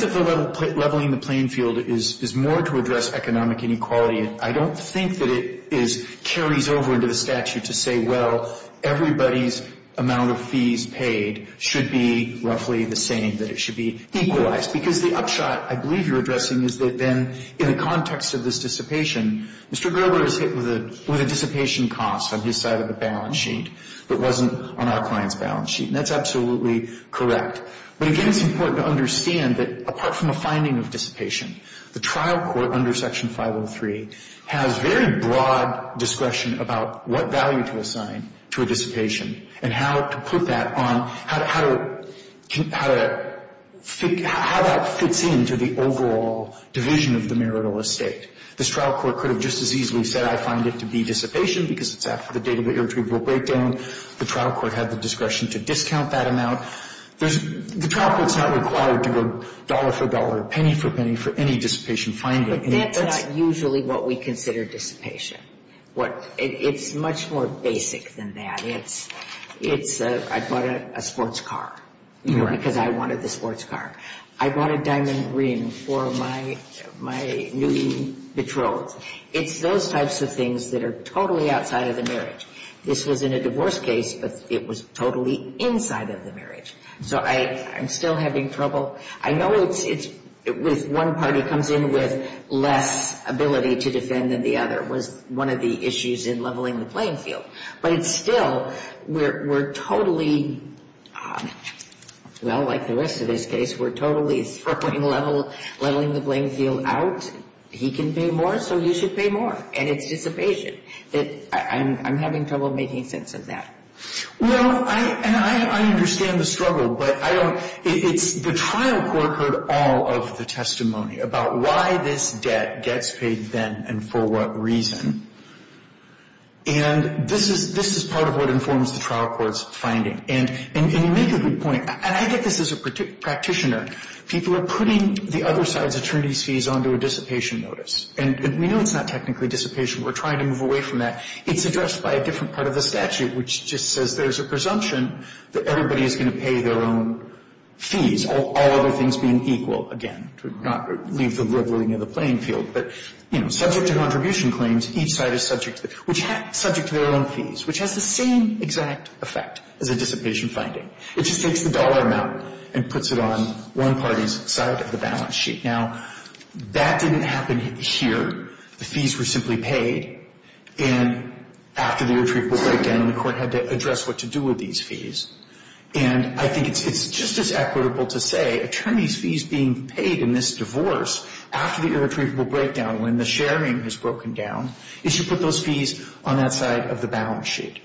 that leveling the playing field is more to address economic inequality. I don't think that it carries over into the statute to say, well, everybody's amount of fees paid should be roughly the same, that it should be equalized. Because the upshot I believe you're addressing is that then in the context of this dissipation, Mr. Gerber is hit with a dissipation cost on his side of the balance sheet that wasn't on our client's balance sheet. And that's absolutely correct. But again, it's important to understand that apart from a finding of dissipation, the trial court under Section 503 has very broad discretion about what value to assign to a dissipation and how to put that on, how that fits into the overall division of the marital estate. This trial court could have just as easily said I find it to be dissipation because it's after the date of the irretrievable breakdown. The trial court had the discretion to discount that amount. The trial court's not required to go dollar for dollar, penny for penny for any dissipation finding. But that's not usually what we consider dissipation. It's much more basic than that. It's I bought a sports car because I wanted the sports car. I bought a diamond ring for my new betrothed. It's those types of things that are totally outside of the marriage. This was in a divorce case, but it was totally inside of the marriage. So I'm still having trouble. I know it's with one party comes in with less ability to defend than the other was one of the issues in leveling the playing field. But it's still we're totally, well, like the rest of this case, we're totally throwing leveling the playing field out. He can pay more, so you should pay more. And it's dissipation. I'm having trouble making sense of that. Well, and I understand the struggle, but it's the trial court heard all of the testimony about why this debt gets paid then and for what reason. And this is part of what informs the trial court's finding. And you make a good point. And I get this as a practitioner. People are putting the other side's attorney's fees onto a dissipation notice. And we know it's not technically dissipation. We're trying to move away from that. It's addressed by a different part of the statute, which just says there's a presumption that everybody is going to pay their own fees, all other things being equal, again, to not leave the leveling of the playing field. But, you know, subject to contribution claims, each side is subject to their own fees, which has the same exact effect as a dissipation finding. It just takes the dollar amount and puts it on one party's side of the balance sheet. Now, that didn't happen here. The fees were simply paid. And after the irretrievable breakdown, the court had to address what to do with these fees. And I think it's just as equitable to say attorneys' fees being paid in this divorce, after the irretrievable breakdown, when the sharing has broken down, is you put those fees on that side of the balance sheet.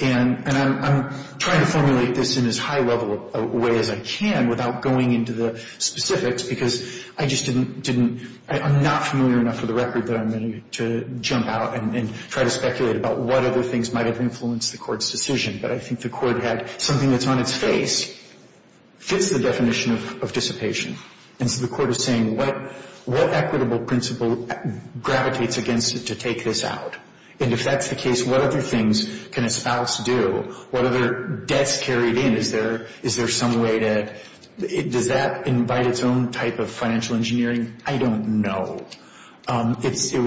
And I'm trying to formulate this in as high a way as I can without going into the specifics because I just didn't — I'm not familiar enough for the record that I'm going to jump out and try to speculate about what other things might have influenced the court's decision. But I think the court had something that's on its face, fits the definition of dissipation. And so the court is saying what equitable principle gravitates against it to take this out? And if that's the case, what other things can a spouse do? What other debts carried in? Is there some way to — does that invite its own type of financial engineering? I don't know. It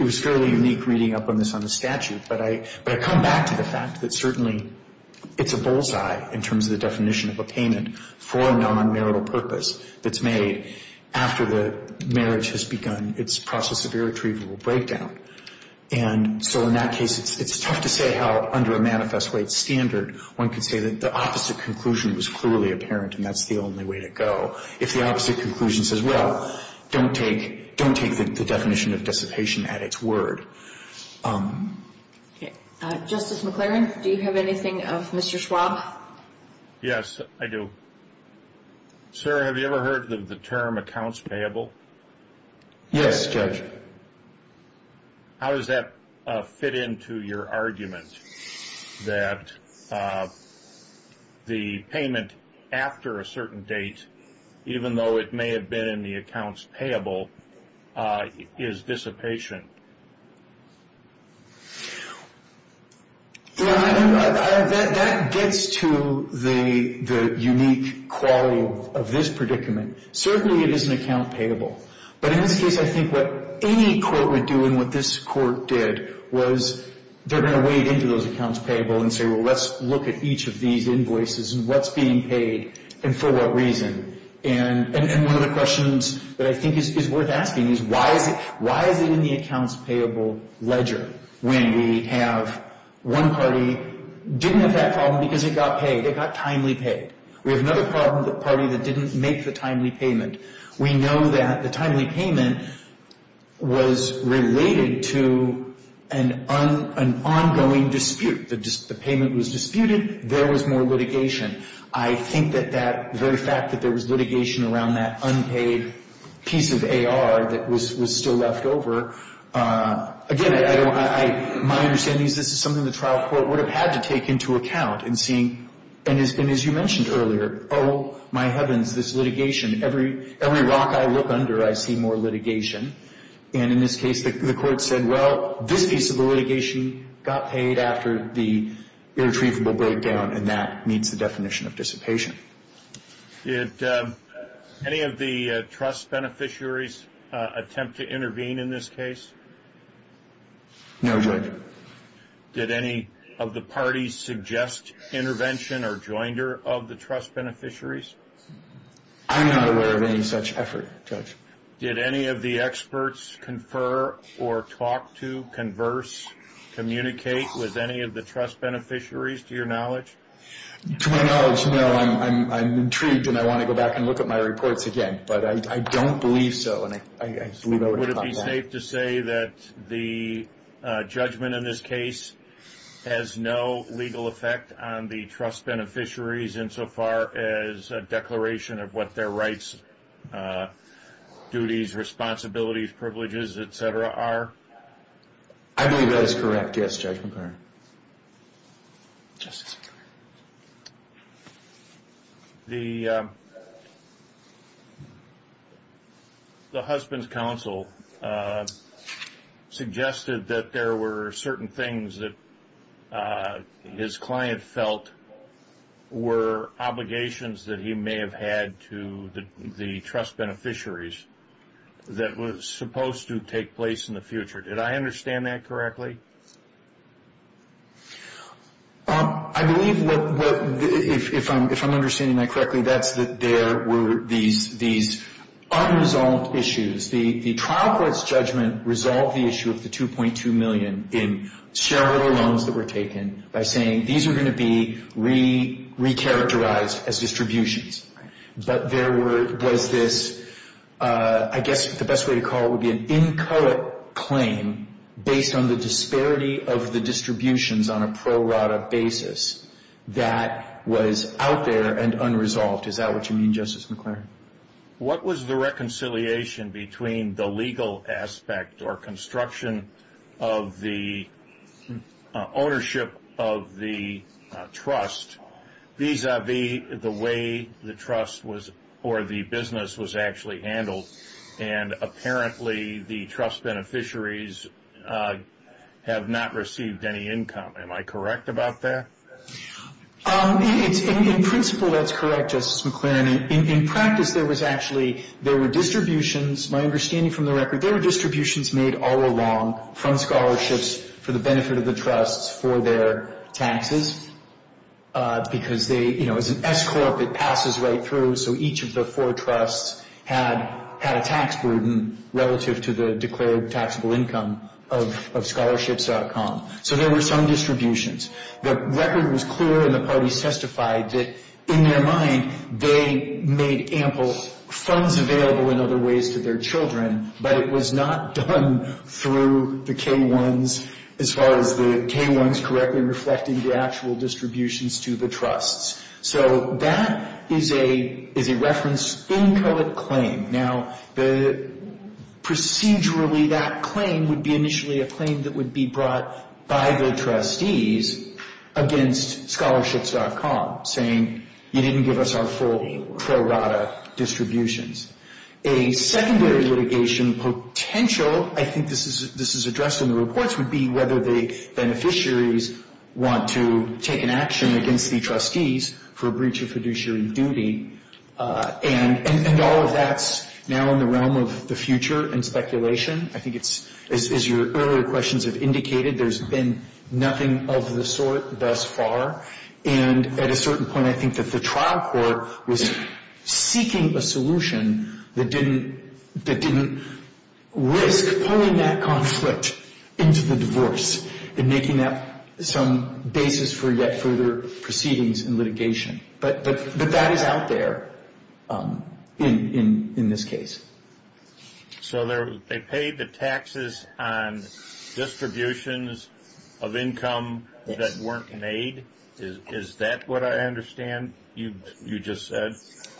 was fairly unique reading up on this on the statute, but I come back to the fact that certainly it's a bullseye in terms of the definition of a payment for a non-marital purpose that's made after the marriage has begun its process of irretrievable breakdown. And so in that case, it's tough to say how, under a manifest rate standard, one could say that the opposite conclusion was clearly apparent and that's the only way to go. If the opposite conclusion says, well, don't take the definition of dissipation at its word. Okay. Justice McLaren, do you have anything of Mr. Schwab? Yes, I do. Sir, have you ever heard of the term accounts payable? Yes, Judge. How does that fit into your argument that the payment after a certain date, even though it may have been in the accounts payable, is dissipation? That gets to the unique quality of this predicament. Certainly it is an account payable, but in this case, I think what any court would do and what this court did was they're going to wade into those accounts payable and say, well, let's look at each of these invoices and what's being paid and for what reason. And one of the questions that I think is worth asking is why is it in the accounts payable ledger when we have one party didn't have that problem because it got paid, it got timely paid. We have another party that didn't make the timely payment. We know that the timely payment was related to an ongoing dispute. The payment was disputed. There was more litigation. I think that that very fact that there was litigation around that unpaid piece of AR that was still left over, again, my understanding is this is something the trial court would have had to take into account in seeing, and as you mentioned earlier, oh, my heavens, this litigation, every rock I look under, I see more litigation. And in this case, the court said, well, this piece of the litigation got paid after the irretrievable breakdown, and that meets the definition of dissipation. Did any of the trust beneficiaries attempt to intervene in this case? No, Judge. Did any of the parties suggest intervention or joinder of the trust beneficiaries? I'm not aware of any such effort, Judge. Did any of the experts confer or talk to, converse, communicate with any of the trust beneficiaries, to your knowledge? To my knowledge, no. I'm intrigued, and I want to go back and look at my reports again, but I don't believe so. Would it be safe to say that the judgment in this case has no legal effect on the trust beneficiaries insofar as a declaration of what their rights, duties, responsibilities, privileges, et cetera, are? I believe that is correct, yes, Judge. Justice Breyer. The husband's counsel suggested that there were certain things that his client felt were obligations that he may have had to the trust beneficiaries that were supposed to take place in the future. Did I understand that correctly? I believe, if I'm understanding that correctly, that's that there were these unresolved issues. The trial court's judgment resolved the issue of the $2.2 million in shareholder loans that were taken by saying these are going to be re-characterized as distributions. But there was this, I guess the best way to call it would be an incorrect claim based on the disparity of the distributions on a pro rata basis that was out there and unresolved. Is that what you mean, Justice McClary? What was the reconciliation between the legal aspect or construction of the ownership of the trust vis-a-vis the way the trust or the business was actually handled? And apparently the trust beneficiaries have not received any income. Am I correct about that? In principle, that's correct, Justice McClary. In practice, there was actually, there were distributions, my understanding from the record, there were distributions made all along from scholarships for the benefit of the trusts for their taxes. Because they, you know, as an S-corp, it passes right through. So each of the four trusts had a tax burden relative to the declared taxable income of scholarships.com. So there were some distributions. The record was clear and the parties testified that in their mind they made ample funds available in other ways to their children, but it was not done through the K-1s, as far as the K-1s correctly reflecting the actual distributions to the trusts. So that is a reference incorrect claim. Now, procedurally that claim would be initially a claim that would be brought by the trustees against scholarships.com, saying you didn't give us our full pro rata distributions. A secondary litigation potential, I think this is addressed in the reports, would be whether the beneficiaries want to take an action against the trustees for breach of fiduciary duty. And all of that's now in the realm of the future and speculation. I think it's, as your earlier questions have indicated, there's been nothing of the sort thus far. And at a certain point I think that the trial court was seeking a solution that didn't risk pulling that conflict into the divorce and making that some basis for yet further proceedings and litigation. But that is out there in this case. So they paid the taxes on distributions of income that weren't made? Is that what I understand you just said? That's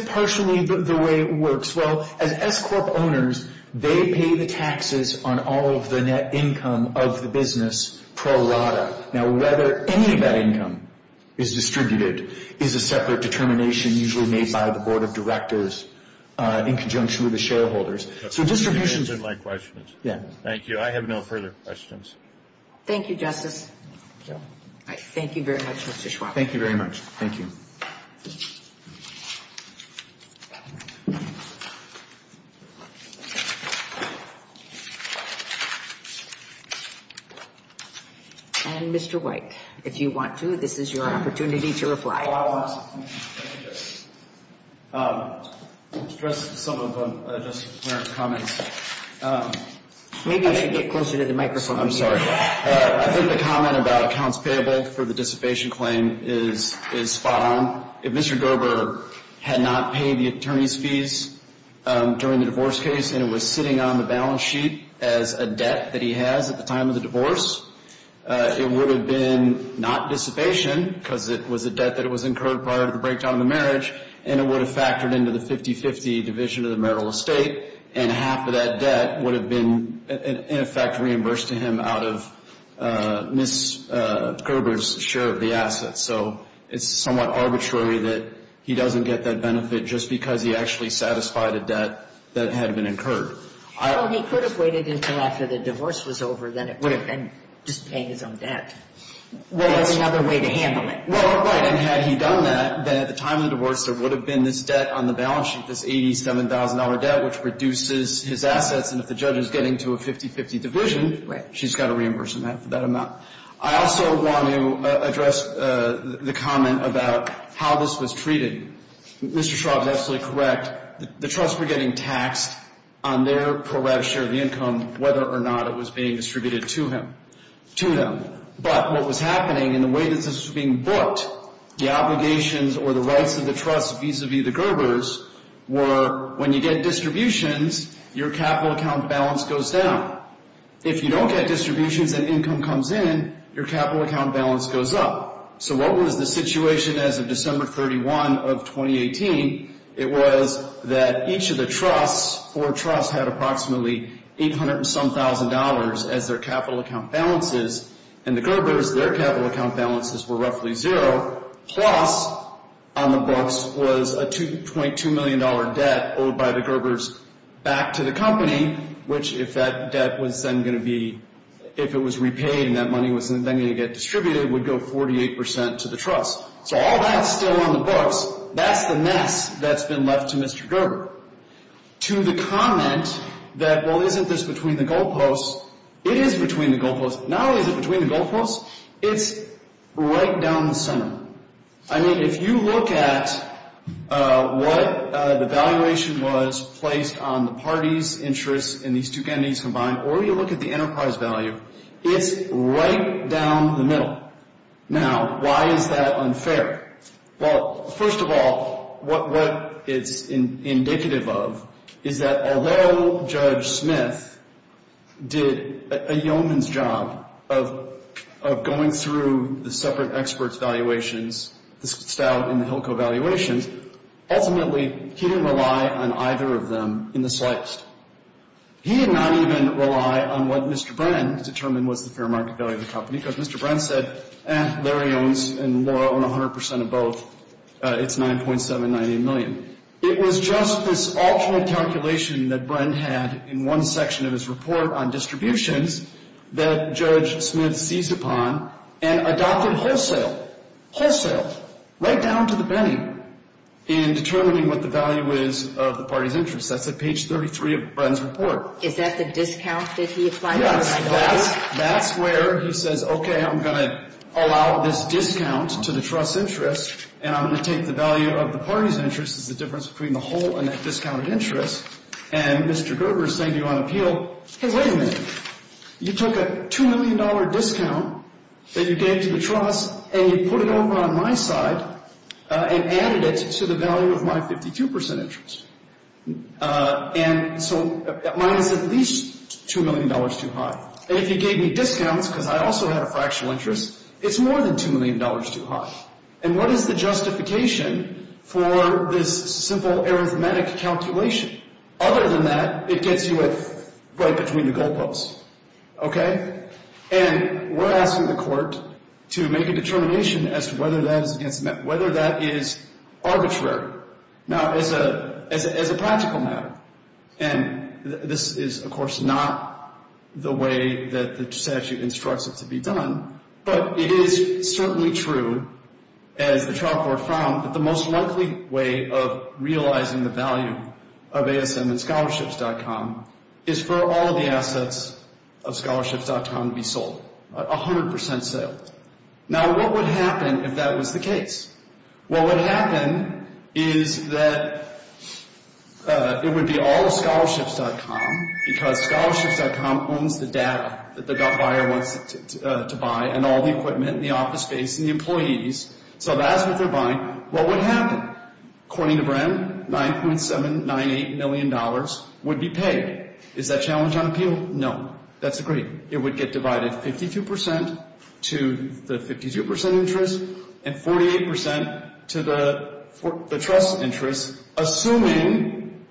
partially the way it works. Well, as S-Corp owners, they pay the taxes on all of the net income of the business pro rata. Now, whether any of that income is distributed is a separate determination usually made by the board of directors in conjunction with the shareholders. So distributions of my questions. Thank you. I have no further questions. Thank you, Justice. Thank you very much, Mr. Schwab. Thank you very much. Thank you. And, Mr. White, if you want to, this is your opportunity to reply. Well, I want to address some of the comments. Maybe you should get closer to the microphone. I'm sorry. I think the comment about accounts payable for the dissipation claim is spot on. If Mr. Gerber had not paid the attorney's fees during the divorce case and it was sitting on the balance sheet as a debt that he has at the time of the divorce, it would have been not dissipation because it was a debt that was incurred prior to the breakdown of the marriage, and it would have factored into the 50-50 division of the marital estate, and half of that debt would have been, in effect, reimbursed to him out of Ms. Gerber's share of the assets. So it's somewhat arbitrary that he doesn't get that benefit just because he actually satisfied a debt that had been incurred. Well, he could have waited until after the divorce was over, then it would have been just paying his own debt. Well, that's another way to handle it. Well, right. And had he done that, then at the time of the divorce, there would have been this debt on the balance sheet, this $87,000 debt, which reduces his assets, and if the judge is getting to a 50-50 division, she's got to reimburse him half of that amount. I also want to address the comment about how this was treated. Mr. Schraub is absolutely correct. The trusts were getting taxed on their pro rata share of the income, whether or not it was being distributed to him, to them. But what was happening in the way that this was being booked, the obligations or the rights of the trusts vis-a-vis the Gerbers, were when you get distributions, your capital account balance goes down. If you don't get distributions and income comes in, your capital account balance goes up. So what was the situation as of December 31 of 2018? It was that each of the trusts, four trusts, had approximately $800 and some thousand as their capital account balances, and the Gerbers, their capital account balances were roughly zero, plus on the books was a $2.2 million debt owed by the Gerbers back to the company, which if that debt was then going to be, if it was repaid and that money was then going to get distributed, would go 48% to the trusts. So all that's still on the books. That's the mess that's been left to Mr. Gerber. To the comment that, well, isn't this between the goalposts? It is between the goalposts. Not only is it between the goalposts, it's right down the center. I mean, if you look at what the valuation was placed on the parties' interests in these two entities combined, or you look at the enterprise value, it's right down the middle. Now, why is that unfair? Well, first of all, what it's indicative of is that although Judge Smith did a yeoman's job of going through the separate experts' valuations, the Stout and the Hilco valuations, ultimately he didn't rely on either of them in the slightest. He did not even rely on what Mr. Brenn determined was the fair market value of the company because Mr. Brenn said, eh, Larry owns and Laura own 100% of both. It's $9.790 million. It was just this alternate calculation that Brenn had in one section of his report on distributions that Judge Smith seized upon and adopted wholesale, wholesale, right down to the penny in determining what the value is of the parties' interests. That's at page 33 of Brenn's report. Is that the discount that he applied? Yes. That's where he says, okay, I'm going to allow this discount to the trust's interest, and I'm going to take the value of the party's interest as the difference between the whole and that discounted interest. And Mr. Gerber is saying to you on appeal, hey, wait a minute. You took a $2 million discount that you gave to the trust, and you put it over on my side and added it to the value of my 52% interest. And so mine is at least $2 million too high. And if you gave me discounts because I also had a fractional interest, it's more than $2 million too high. And what is the justification for this simple arithmetic calculation? Other than that, it gets you right between the goal posts. Okay? And we're asking the court to make a determination as to whether that is arbitrary. Now, as a practical matter, and this is, of course, not the way that the statute instructs it to be done, but it is certainly true, as the trial court found, that the most likely way of realizing the value of ASM and scholarships.com is for all of the assets of scholarships.com to be sold, 100% sales. Now, what would happen if that was the case? Well, what would happen is that it would be all of scholarships.com because scholarships.com owns the data that the buyer wants to buy and all the equipment and the office space and the employees. So that's what they're buying. What would happen? According to Bren, $9.798 million would be paid. Is that challenge unappealed? No. That's agreed. It would get divided 52% to the 52% interest and 48% to the trust interest, assuming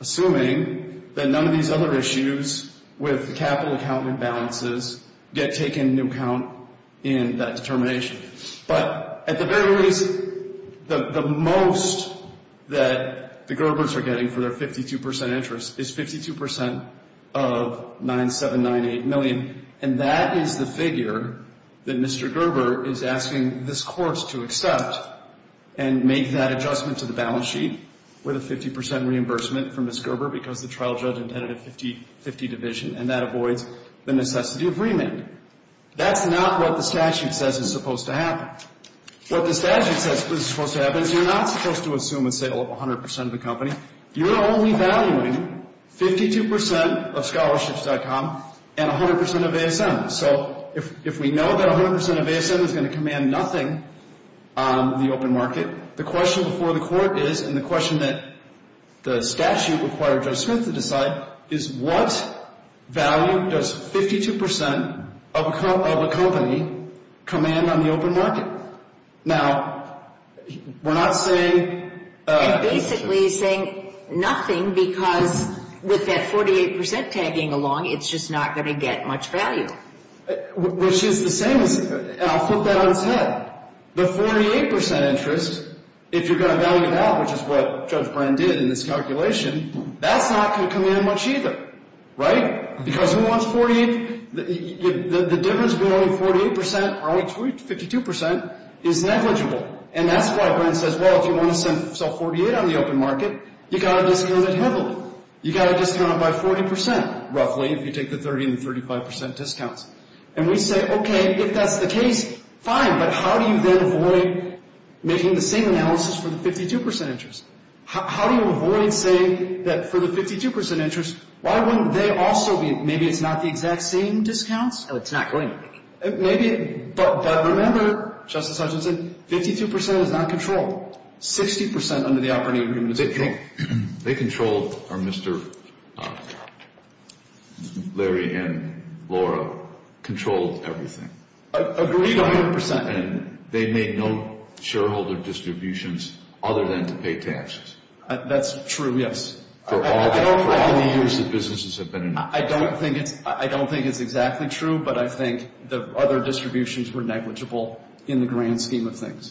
that none of these other issues with capital account imbalances get taken into account in that determination. But at the very least, the most that the Gerber's are getting for their 52% interest is 52% of $9.798 million, and that is the figure that Mr. Gerber is asking this course to accept and make that adjustment to the balance sheet with a 50% reimbursement from Ms. Gerber because the trial judge intended a 50-50 division, and that avoids the necessity of remand. That's not what the statute says is supposed to happen. What the statute says is supposed to happen is you're not supposed to assume a sale of 100% of the company. You're only valuing 52% of scholarships.com and 100% of ASM. So if we know that 100% of ASM is going to command nothing on the open market, the question before the court is, and the question that the statute required Judge Smith to decide, is what value does 52% of a company command on the open market? Now, we're not saying... And basically he's saying nothing because with that 48% tagging along, it's just not going to get much value. Which is the same as, and I'll put that on his head, the 48% interest, if you're going to value that, which is what Judge Brand did in this calculation, that's not going to command much either, right? Because who wants 48? The difference between only 48% or only 52% is negligible. And that's why Brand says, well, if you want to sell 48 on the open market, you've got to discount it heavily. You've got to discount it by 40%, roughly, if you take the 30 and 35% discounts. And we say, okay, if that's the case, fine, but how do you then avoid making the same analysis for the 52% interest? How do you avoid saying that for the 52% interest, why wouldn't they also be, maybe it's not the exact same discounts? No, it's not going to be. Maybe, but remember, Justice Hutchinson, 52% is not controlled. 60% under the operating agreement is controlled. They controlled, or Mr. Larry and Laura controlled everything. Agreed on 100%. And they made no shareholder distributions other than to pay taxes. That's true, yes. I don't think it's exactly true, but I think the other distributions were negligible in the grand scheme of things.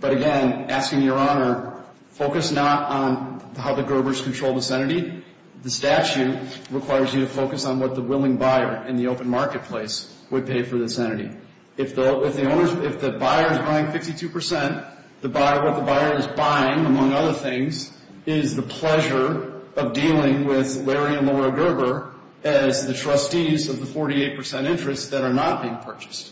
But again, asking Your Honor, focus not on how the Gerbers control this entity. The statute requires you to focus on what the willing buyer in the open marketplace would pay for this entity. If the buyer is buying 52%, what the buyer is buying, among other things, is the pleasure of dealing with Larry and Laura Gerber as the trustees of the 48% interest that are not being purchased,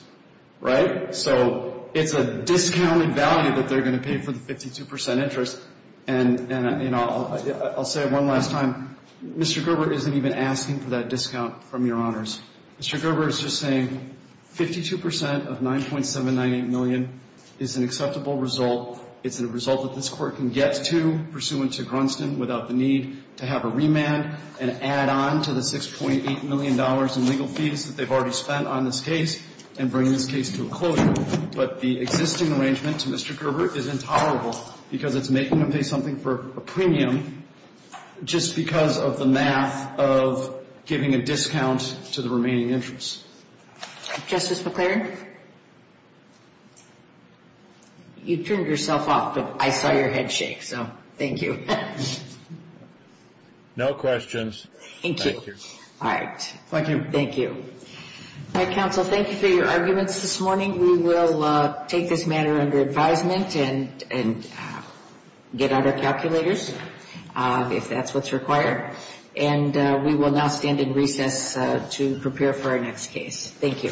right? So it's a discounted value that they're going to pay for the 52% interest. And I'll say it one last time. Mr. Gerber isn't even asking for that discount from Your Honors. Mr. Gerber is just saying 52% of $9.798 million is an acceptable result. It's a result that this Court can get to pursuant to Grunston without the need to have a remand and add on to the $6.8 million in legal fees that they've already spent on this case and bring this case to a closure. But the existing arrangement to Mr. Gerber is intolerable because it's making them pay something for a premium just because of the math of giving a discount to the remaining interest. Justice McClaren? You turned yourself off, but I saw your head shake, so thank you. No questions. Thank you. All right. Thank you. All right, counsel, thank you for your arguments this morning. We will take this matter under advisement and get out our calculators, if that's what's required. And we will now stand in recess to prepare for our next case. Thank you.